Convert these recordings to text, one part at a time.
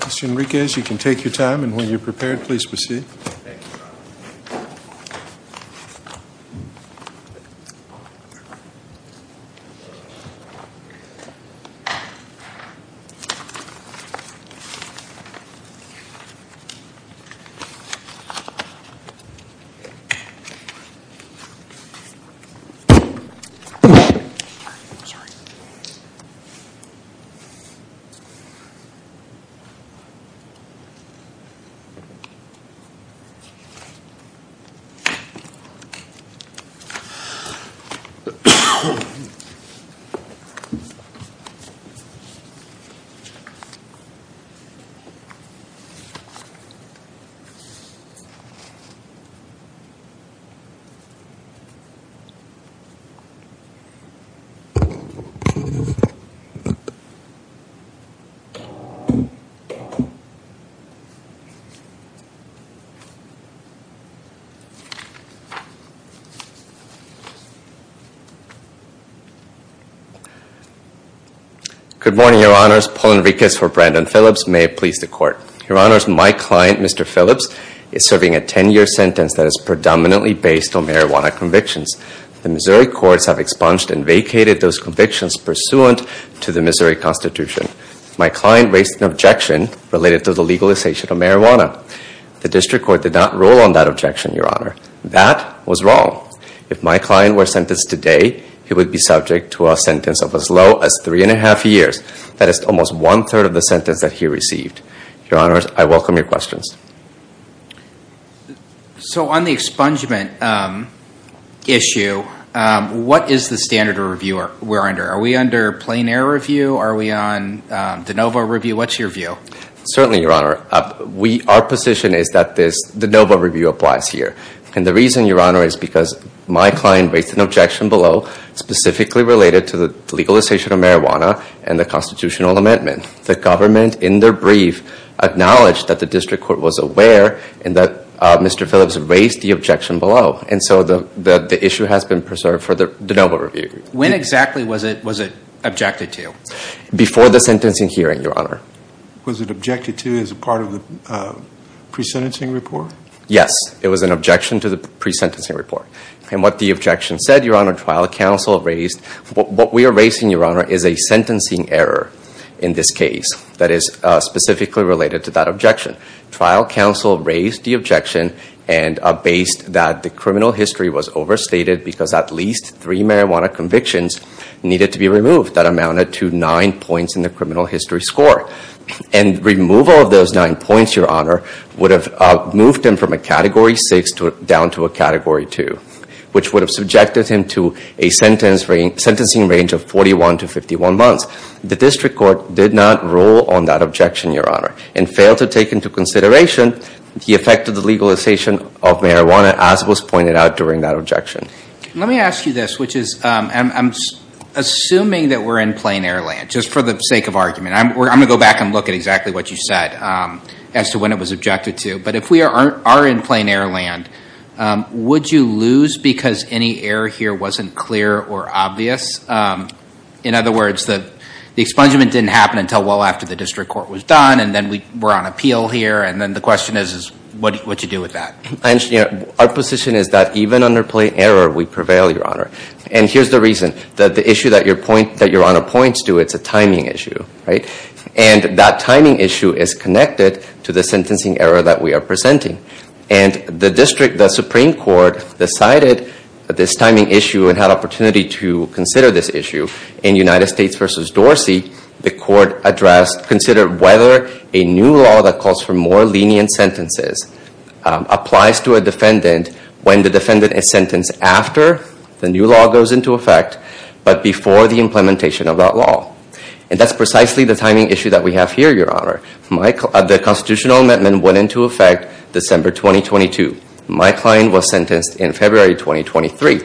Mr. Enriquez, you can take your time and when you're prepared, please proceed. Mr. Enriquez, you can take your time and when you're prepared, please proceed. Good morning, Your Honors. Paul Enriquez for Brandon Phillips. May it please the Court. Your Honors, my client, Mr. Phillips, is serving a 10-year sentence that is predominantly based on marijuana convictions. The Missouri courts have expunged and vacated those convictions pursuant to the Missouri Constitution. My client raised an objection related to the legalization of marijuana. The district court did not rule on that objection, Your Honor. That was wrong. If my client were sentenced today, he would be subject to a sentence of as low as three and a half years. That is almost one-third of the sentence that he received. Your Honors, I welcome your questions. So on the expungement issue, what is the standard of review we're under? Are we under plein air review? Are we on de novo review? What's your view? Certainly, Your Honor. Our position is that this de novo review applies here. And the reason, Your Honor, is because my client raised an objection below specifically related to the legalization of marijuana and the constitutional amendment. The government, in their brief, acknowledged that the district court was aware and that Mr. Phillips raised the objection below. And so the issue has been preserved for the de novo review. When exactly was it objected to? Before the sentencing hearing, Your Honor. Was it objected to as part of the pre-sentencing report? Yes. It was an objection to the pre-sentencing report. And what the objection said, Your Honor, trial counsel raised What we are raising, Your Honor, is a sentencing error in this case that is specifically related to that objection. Trial counsel raised the objection and based that the criminal history was overstated because at least three marijuana convictions needed to be removed that amounted to nine points in the criminal history score. And removal of those nine points, Your Honor, would have moved him from a category 6 down to a category 2, which would have subjected him to a sentence in the sentencing range of 41 to 51 months. The district court did not rule on that objection, Your Honor, and failed to take into consideration the effect of the legalization of marijuana as was pointed out during that objection. Let me ask you this, which is I'm assuming that we're in plain air land, just for the sake of argument. I'm going to go back and look at exactly what you said as to when it was objected to. But if we are in plain air land, would you lose because any error here wasn't clear or obvious? In other words, the expungement didn't happen until well after the district court was done and then we're on appeal here and then the question is what do you do with that? Our position is that even under plain error we prevail, Your Honor. And here's the reason. The issue that Your Honor points to, it's a timing issue. And that timing issue is connected to the sentencing error that we are presenting. And the district, the Supreme Court, decided this timing issue and had opportunity to consider this issue. In United States v. Dorsey, the court addressed, considered whether a new law that calls for more lenient sentences applies to a defendant when the defendant is sentenced after the new law goes into effect but before the implementation of that law. And that's precisely the timing issue that we have here, Your Honor. The constitutional amendment went into effect December 2022. My client was sentenced in February 2023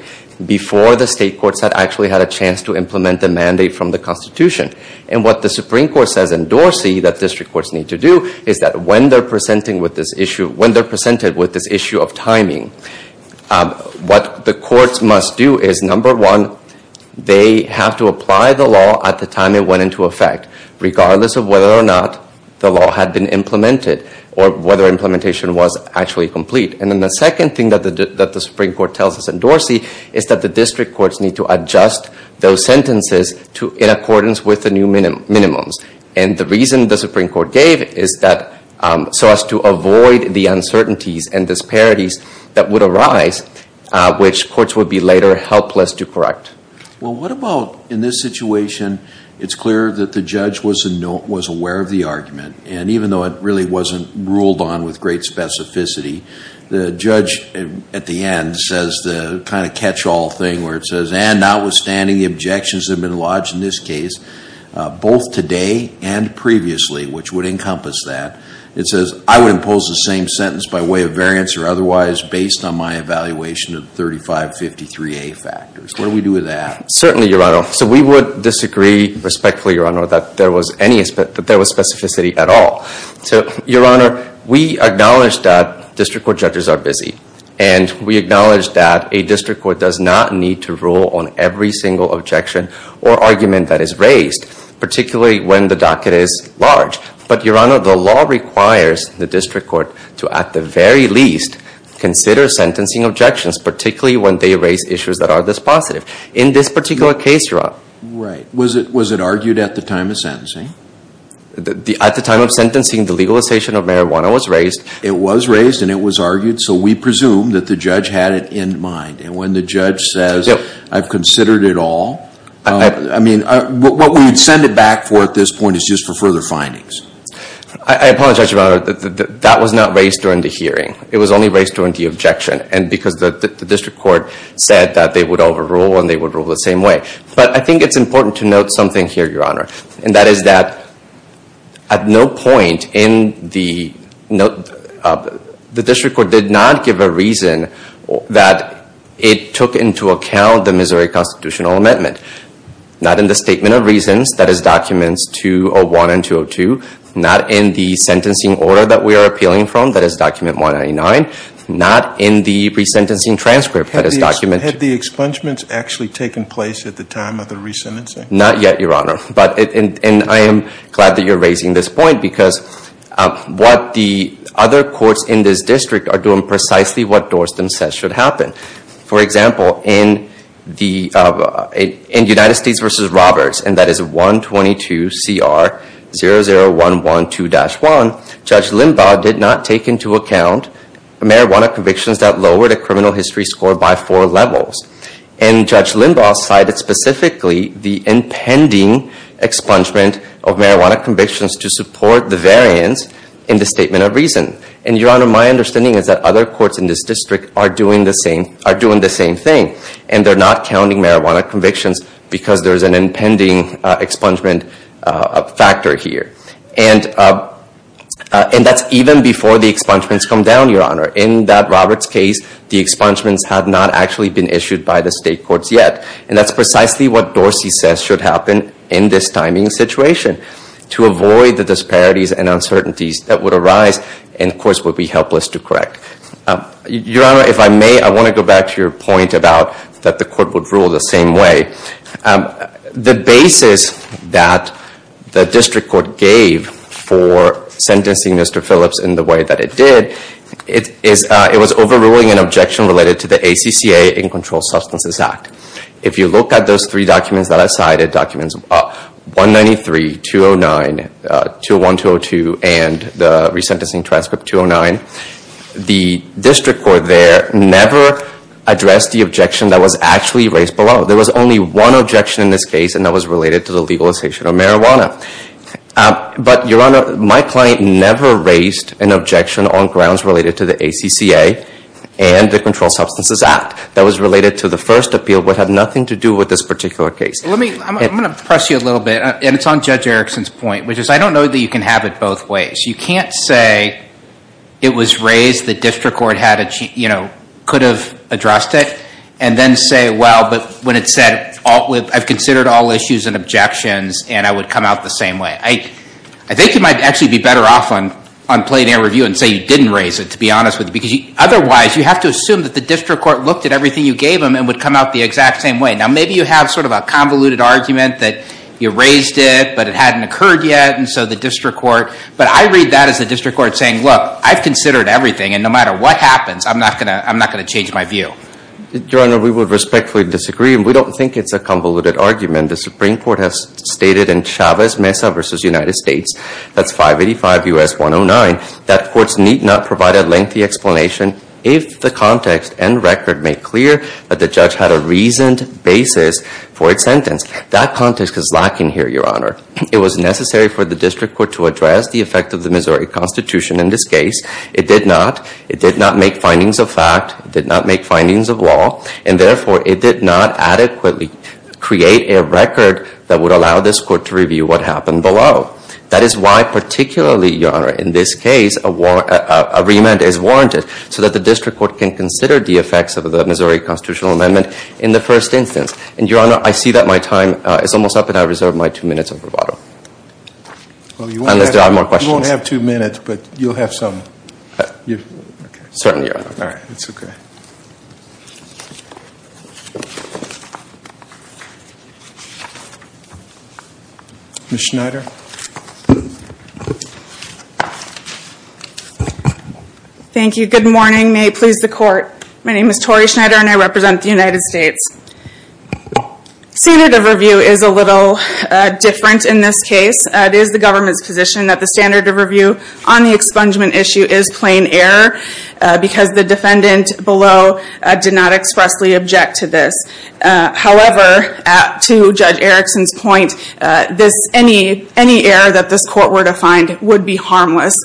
before the state courts had actually had a chance to implement the mandate from the Constitution. And what the Supreme Court says in Dorsey that district courts need to do is that when they're presented with this issue of timing, what the courts must do is, number one, they have to apply the law at the time it went into effect regardless of whether or not the law had been implemented or whether implementation was actually complete. And then the second thing that the Supreme Court tells us in Dorsey is that the district courts need to adjust those sentences in accordance with the new minimums. And the reason the Supreme Court gave is that so as to avoid the uncertainties and disparities that would arise, which courts would be later helpless to correct. Well, what about in this situation, it's clear that the judge was aware of the argument and even though it really wasn't ruled on with great specificity, the judge at the end says the kind of catch-all thing where it says, and notwithstanding the objections that have been lodged in this case, both today and previously, which would encompass that, it says, I would impose the same sentence by way of variance or otherwise based on my evaluation of 3553A factors. What do we do with that? Certainly, Your Honor. So we would disagree respectfully, Your Honor, that there was specificity at all. So, Your Honor, we acknowledge that district court judges are busy and we acknowledge that a district court does not need to rule on every single objection or argument that is raised, particularly when the docket is large. But, Your Honor, the law requires the district court to, at the very least, consider sentencing objections, particularly when they raise issues that are this positive. In this particular case, Your Honor. Right. Was it argued at the time of sentencing? At the time of sentencing, the legalization of marijuana was raised. It was raised and it was argued, so we presume that the judge had it in mind. And when the judge says, I've considered it all, I mean, what we would send it back for at this point is just for further findings. I apologize, Your Honor, that was not raised during the hearing. It was only raised during the objection. And because the district court said that they would overrule and they would rule the same way. But I think it's important to note something here, Your Honor, and that is that at no point in the district court did not give a reason that it took into account the Missouri constitutional amendment. Not in the statement of reasons, that is documents 201 and 202. Not in the sentencing order that we are appealing from, that is document 199. Not in the resentencing transcript that is document. Had the expungements actually taken place at the time of the resentencing? Not yet, Your Honor. And I am glad that you're raising this point because what the other courts in this district are doing precisely what Dorstan says should happen. For example, in United States v. Roberts, and that is 122CR00112-1, Judge Limbaugh did not take into account marijuana convictions that lowered a criminal history score by four levels. And Judge Limbaugh cited specifically the impending expungement of marijuana convictions to support the variance in the statement of reason. And, Your Honor, my understanding is that other courts in this district are doing the same thing. And they're not counting marijuana convictions because there's an impending expungement factor here. And that's even before the expungements come down, Your Honor. In that Roberts case, the expungements had not actually been issued by the state courts yet. And that's precisely what Dorsey says should happen in this timing situation to avoid the disparities and uncertainties that would arise and, of course, would be helpless to correct. Your Honor, if I may, I want to go back to your point about that the court would rule the same way. The basis that the district court gave for sentencing Mr. Phillips in the way that it did, it was overruling an objection related to the ACCA, In Controlled Substances Act. If you look at those three documents that I cited, documents 193, 209, 201, 202, and the resentencing transcript 209, the district court there never addressed the objection that was actually raised below. There was only one objection in this case, and that was related to the legalization of marijuana. But, Your Honor, my client never raised an objection on grounds related to the ACCA and the Controlled Substances Act that was related to the first appeal but had nothing to do with this particular case. I'm going to press you a little bit, and it's on Judge Erickson's point, which is I don't know that you can have it both ways. You can't say it was raised, the district court could have addressed it, and then say, well, but when it said, I've considered all issues and objections, and I would come out the same way. I think you might actually be better off on plain air review and say you didn't raise it, to be honest with you. Otherwise, you have to assume that the district court looked at everything you gave them and would come out the exact same way. Now, maybe you have sort of a convoluted argument that you raised it, but it hadn't occurred yet, and so the district court, but I read that as the district court saying, look, I've considered everything, and no matter what happens, I'm not going to change my view. Your Honor, we would respectfully disagree, and we don't think it's a convoluted argument. The Supreme Court has stated in Chavez-Mesa v. United States, that's 585 U.S. 109, that courts need not provide a lengthy explanation if the context and record make clear that the judge had a reasoned basis for its sentence. That context is lacking here, Your Honor. It was necessary for the district court to address the effect of the Missouri Constitution in this case. It did not. It did not make findings of fact. It did not make findings of law, and therefore, it did not adequately create a record that would allow this court to review what happened below. That is why, particularly, Your Honor, in this case, a remand is warranted so that the district court can consider the effects of the Missouri Constitutional Amendment in the first instance. And, Your Honor, I see that my time is almost up, and I reserve my two minutes of rebuttal. Unless there are more questions. You won't have two minutes, but you'll have some. Certainly, Your Honor. All right. That's okay. Ms. Schneider. Thank you. Good morning. May it please the Court. My name is Tori Schneider, and I represent the United States. The standard of review is a little different in this case. It is the government's position that the standard of review on the expungement issue is plain error because the defendant below did not expressly object to this. However, to Judge Erickson's point, any error that this court were to find would be harmless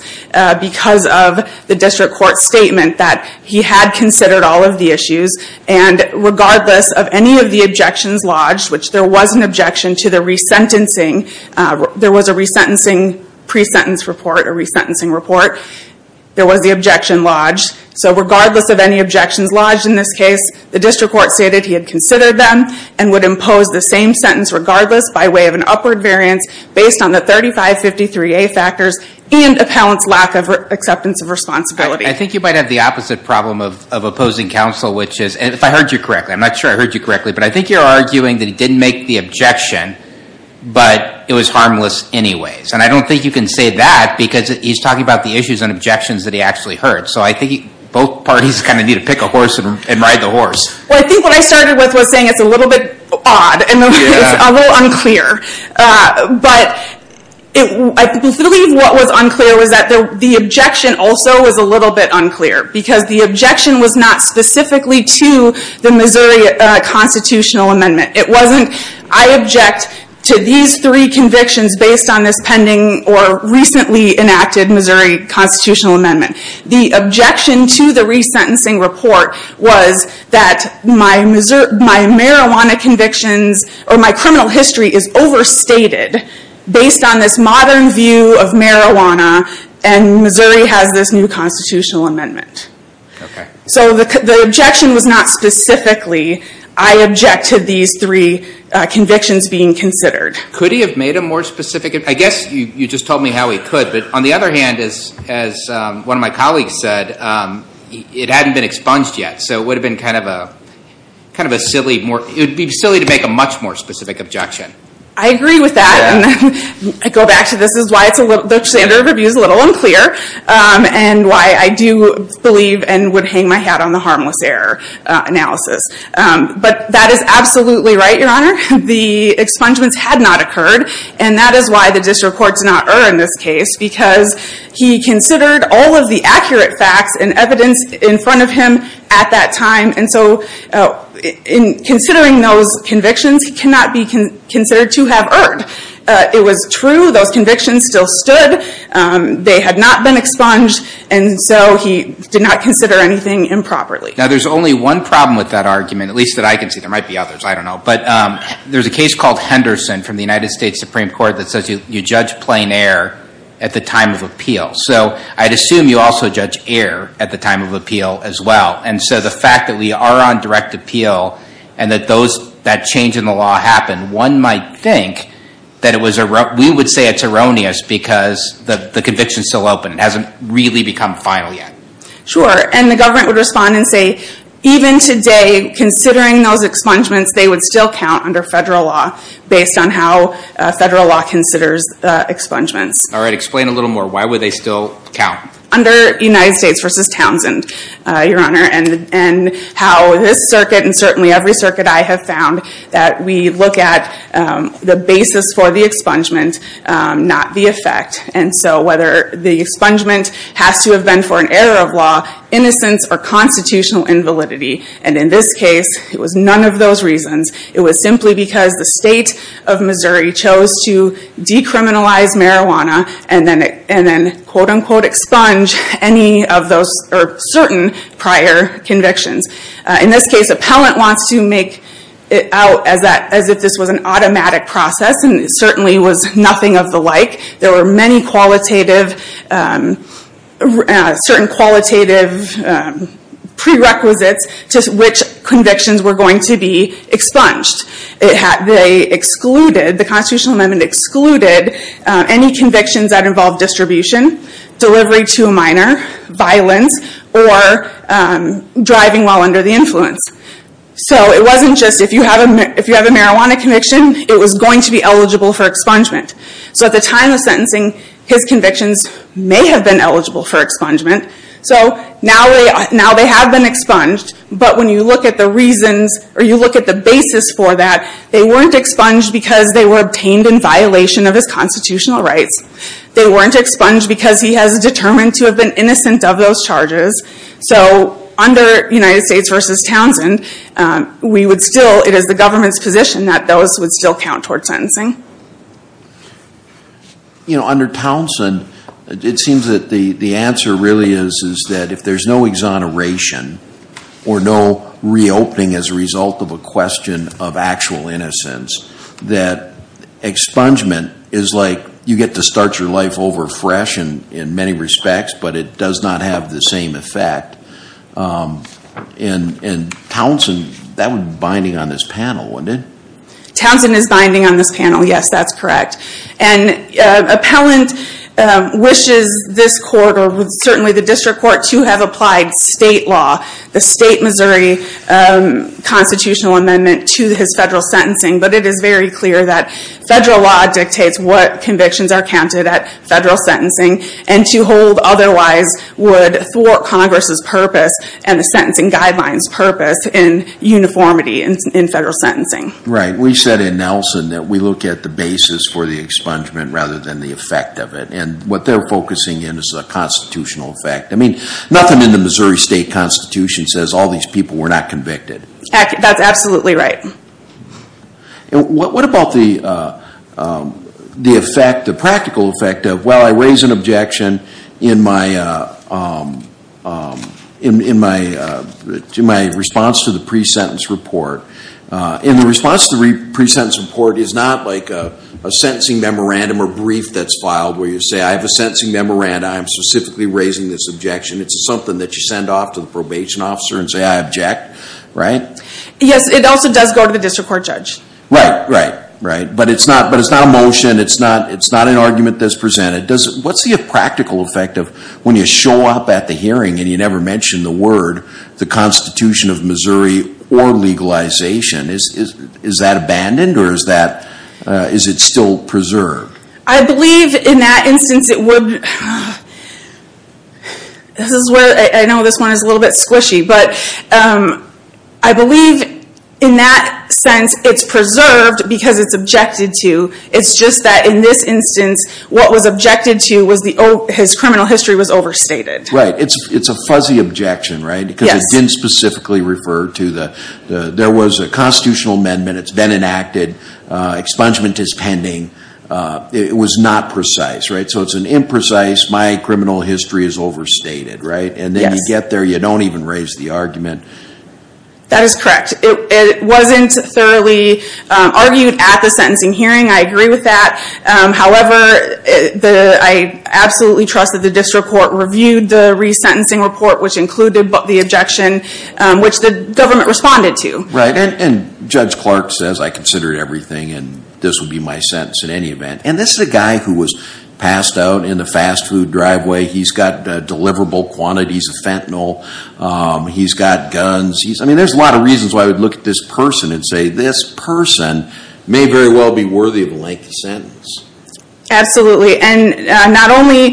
because of the district court's statement that he had considered all of the issues, and regardless of any of the objections lodged, which there was an objection to the resentencing. There was a resentencing pre-sentence report, a resentencing report. There was the objection lodged. So regardless of any objections lodged in this case, the district court stated he had considered them and would impose the same sentence regardless by way of an upward variance based on the 3553A factors and appellant's lack of acceptance of responsibility. I think you might have the opposite problem of opposing counsel, which is, if I heard you correctly, I'm not sure I heard you correctly, but I think you're arguing that he didn't make the objection, but it was harmless anyways. And I don't think you can say that because he's talking about the issues and objections that he actually heard. So I think both parties kind of need to pick a horse and ride the horse. Well, I think what I started with was saying it's a little bit odd and a little unclear. But I believe what was unclear was that the objection also was a little bit unclear because the objection was not specifically to the Missouri Constitutional Amendment. It wasn't, I object to these three convictions based on this pending or recently enacted Missouri Constitutional Amendment. The objection to the resentencing report was that my marijuana convictions or my criminal history is overstated based on this modern view of marijuana and Missouri has this new Constitutional Amendment. So the objection was not specifically, I object to these three convictions being considered. Could he have made a more specific, I guess you just told me how he could, but on the other hand, as one of my colleagues said, it hadn't been expunged yet. So it would have been kind of a silly, it would be silly to make a much more specific objection. I agree with that. I go back to this is why the standard of review is a little unclear and why I do believe and would hang my hat on the harmless error analysis. But that is absolutely right, Your Honor. The expungements had not occurred and that is why the district court did not err in this case because he considered all of the accurate facts and evidence in front of him at that time. And so in considering those convictions, he cannot be considered to have erred. It was true. Those convictions still stood. They had not been expunged. And so he did not consider anything improperly. Now, there's only one problem with that argument, at least that I can see. There might be others. I don't know. But there's a case called Henderson from the United States Supreme Court that says you judge plain error at the time of appeal. So I'd assume you also judge error at the time of appeal as well. And so the fact that we are on direct appeal and that that change in the law happened, one might think that we would say it's erroneous because the conviction is still open. It hasn't really become final yet. Sure. And the government would respond and say even today, considering those expungements, they would still count under federal law based on how federal law considers expungements. All right. Explain a little more. Why would they still count? Under United States v. Townsend, Your Honor, and how this circuit and certainly every circuit I have found that we look at the basis for the expungement, not the effect. And so whether the expungement has to have been for an error of law, innocence, or constitutional invalidity. And in this case, it was none of those reasons. It was simply because the state of Missouri chose to decriminalize marijuana and then quote unquote expunge any of those or certain prior convictions. In this case, appellant wants to make it out as if this was an automatic process and it certainly was nothing of the like. There were many qualitative, certain qualitative prerequisites to which convictions were going to be expunged. The constitutional amendment excluded any convictions that involved distribution, delivery to a minor, violence, or driving while under the influence. So it wasn't just if you have a marijuana conviction, it was going to be eligible for expungement. So at the time of sentencing, his convictions may have been eligible for expungement. So now they have been expunged, but when you look at the reasons or you look at the basis for that, they weren't expunged because they were obtained in violation of his constitutional rights. They weren't expunged because he has determined to have been innocent of those charges. So under United States v. Townsend, it is the government's position that those would still count toward sentencing. You know, under Townsend, it seems that the answer really is that if there is no exoneration or no reopening as a result of a question of actual innocence, that expungement is like you get to start your life over fresh in many respects, but it does not have the same effect. And Townsend, that would be binding on this panel, wouldn't it? Townsend is binding on this panel. Yes, that's correct. And appellant wishes this court or certainly the district court to have applied state law, the state Missouri constitutional amendment to his federal sentencing, but it is very clear that federal law dictates what convictions are counted at federal sentencing and to hold otherwise would thwart Congress's purpose and the sentencing guidelines purpose in uniformity in federal sentencing. Right. We said in Nelson that we look at the basis for the expungement rather than the effect of it. And what they're focusing in is the constitutional effect. I mean, nothing in the Missouri state constitution says all these people were not convicted. That's absolutely right. And what about the effect, the practical effect of, well, I raise an objection in my response to the pre-sentence report. And the response to the pre-sentence report is not like a sentencing memorandum or brief that's filed where you say I have a sentencing memorandum, I'm specifically raising this objection. It's something that you send off to the probation officer and say I object, right? Yes, it also does go to the district court judge. Right, right, right. But it's not a motion, it's not an argument that's presented. What's the practical effect of when you show up at the hearing and you never mention the word the Constitution of Missouri or legalization? Is that abandoned or is it still preserved? I believe in that instance it would, I know this one is a little bit squishy, but I believe in that sense it's preserved because it's objected to. It's just that in this instance what was objected to was his criminal history was overstated. Right, it's a fuzzy objection, right? Yes. Because it didn't specifically refer to the, there was a constitutional amendment, it's been enacted, expungement is pending, it was not precise, right? So it's an imprecise, my criminal history is overstated, right? And then you get there, you don't even raise the argument. That is correct. It wasn't thoroughly argued at the sentencing hearing, I agree with that. However, I absolutely trust that the district court reviewed the resentencing report, which included the objection which the government responded to. Right, and Judge Clark says I considered everything and this would be my sentence in any event. And this is a guy who was passed out in the fast food driveway, he's got deliverable quantities of fentanyl, he's got guns, I mean there's a lot of reasons why I would look at this person and say this person may very well be worthy of a lengthy sentence. Absolutely, and not only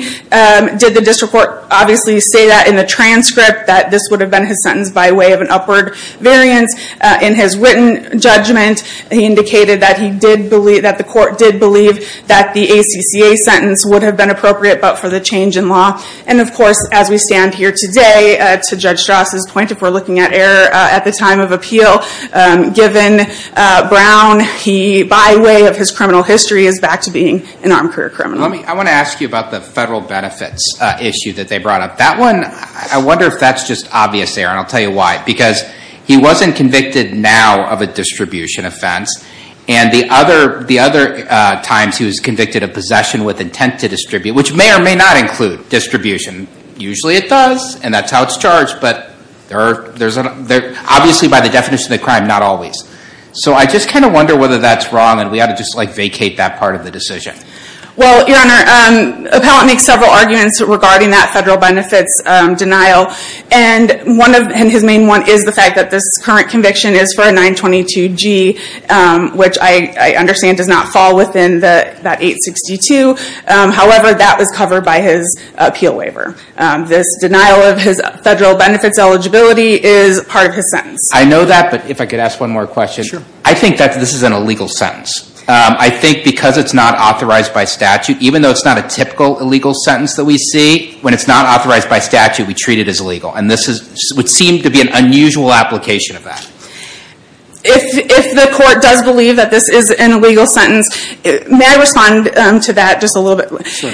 did the district court obviously say that in the transcript that this would have been his sentence by way of an upward variance, in his written judgment he indicated that the court did believe that the ACCA sentence would have been appropriate but for the change in law. And of course, as we stand here today, to Judge Strauss' point, if we're looking at error at the time of appeal, given Brown, by way of his criminal history is back to being an armed career criminal. I want to ask you about the federal benefits issue that they brought up. That one, I wonder if that's just obvious there and I'll tell you why. Because he wasn't convicted now of a distribution offense and the other times he was convicted of possession with intent to distribute, which may or may not include distribution. Usually it does and that's how it's charged, but obviously by the definition of the crime, not always. So I just kind of wonder whether that's wrong and we ought to just vacate that part of the decision. Well, Your Honor, Appellant makes several arguments regarding that federal benefits denial and his main one is the fact that this current conviction is for a 922G, which I understand does not fall within that 862. However, that was covered by his appeal waiver. This denial of his federal benefits eligibility is part of his sentence. I know that, but if I could ask one more question. Sure. I think that this is an illegal sentence. I think because it's not authorized by statute, even though it's not a typical illegal sentence that we see, when it's not authorized by statute, we treat it as illegal. And this would seem to be an unusual application of that. If the court does believe that this is an illegal sentence, may I respond to that just a little bit? Sure.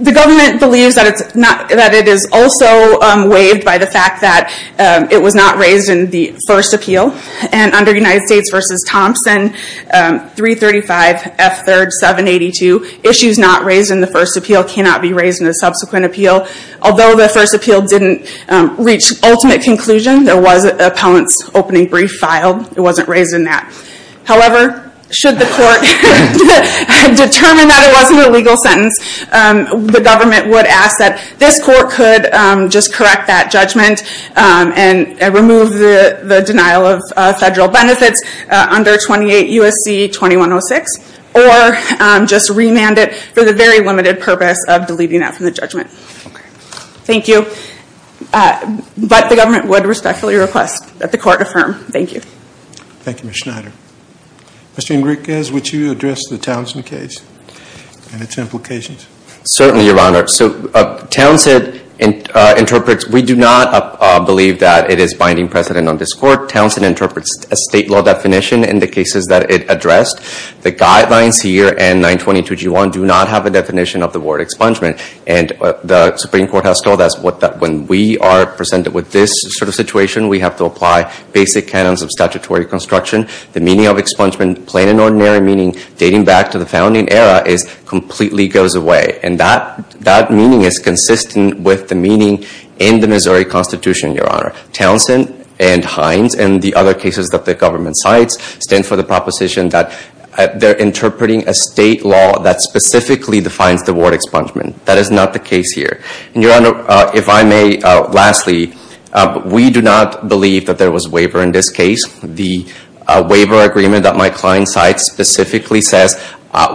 The government believes that it is also waived by the fact that it was not raised in the first appeal. And under United States v. Thompson, 335 F. 3rd 782, issues not raised in the first appeal cannot be raised in the subsequent appeal. Although the first appeal didn't reach ultimate conclusion, there was an appellant's opening brief filed. It wasn't raised in that. However, should the court determine that it wasn't a legal sentence, the government would ask that this court could just correct that judgment and remove the denial of federal benefits under 28 U.S.C. 2106 or just remand it for the very limited purpose of deleting that from the judgment. Thank you. But the government would respectfully request that the court affirm. Thank you. Thank you, Ms. Schneider. Mr. Enriquez, would you address the Townsend case and its implications? Certainly, Your Honor. So Townsend interprets. We do not believe that it is binding precedent on this court. Townsend interprets a state law definition in the cases that it addressed. The guidelines here and 922G1 do not have a definition of the word expungement. And the Supreme Court has told us when we are presented with this sort of situation, we have to apply basic canons of statutory construction. The meaning of expungement, plain and ordinary meaning, dating back to the founding era, completely goes away. And that meaning is consistent with the meaning in the Missouri Constitution, Your Honor. Townsend and Hines and the other cases that the government cites stand for the proposition that they're interpreting a state law that specifically defines the word expungement. That is not the case here. And, Your Honor, if I may, lastly, we do not believe that there was waiver in this case. The waiver agreement that my client cites specifically says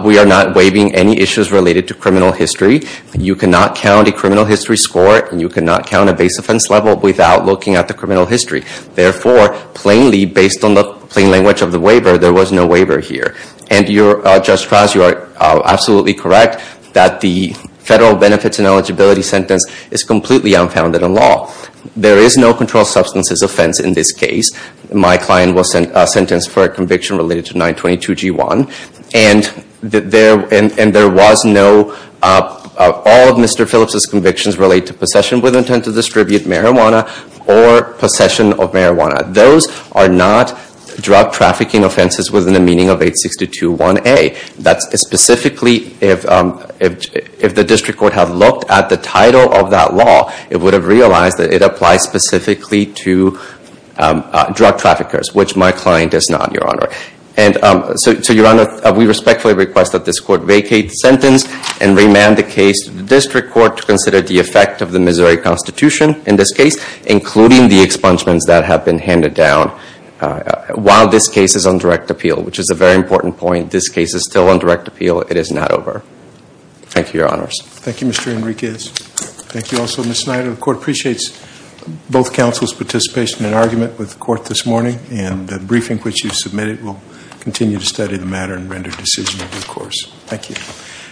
we are not waiving any issues related to criminal history. You cannot count a criminal history score, and you cannot count a base offense level without looking at the criminal history. Therefore, plainly, based on the plain language of the waiver, there was no waiver here. And, Judge Fraas, you are absolutely correct that the federal benefits and eligibility sentence is completely unfounded in law. There is no controlled substances offense in this case. My client was sentenced for a conviction related to 922G1. And there was no—all of Mr. Phillips' convictions relate to possession with intent to distribute marijuana or possession of marijuana. Those are not drug trafficking offenses within the meaning of 862.1a. That's specifically—if the district court had looked at the title of that law, it would have realized that it applies specifically to drug traffickers, which my client does not, Your Honor. And so, Your Honor, we respectfully request that this court vacate the sentence and remand the case to the district court to consider the effect of the Missouri Constitution in this case, including the expungements that have been handed down while this case is on direct appeal, which is a very important point. This case is still on direct appeal. It is not over. Thank you, Your Honors. Thank you, Mr. Enriquez. Thank you also, Ms. Snyder. The court appreciates both counsel's participation and argument with the court this morning, and the briefing which you submitted will continue to study the matter and render decisions, of course. Thank you.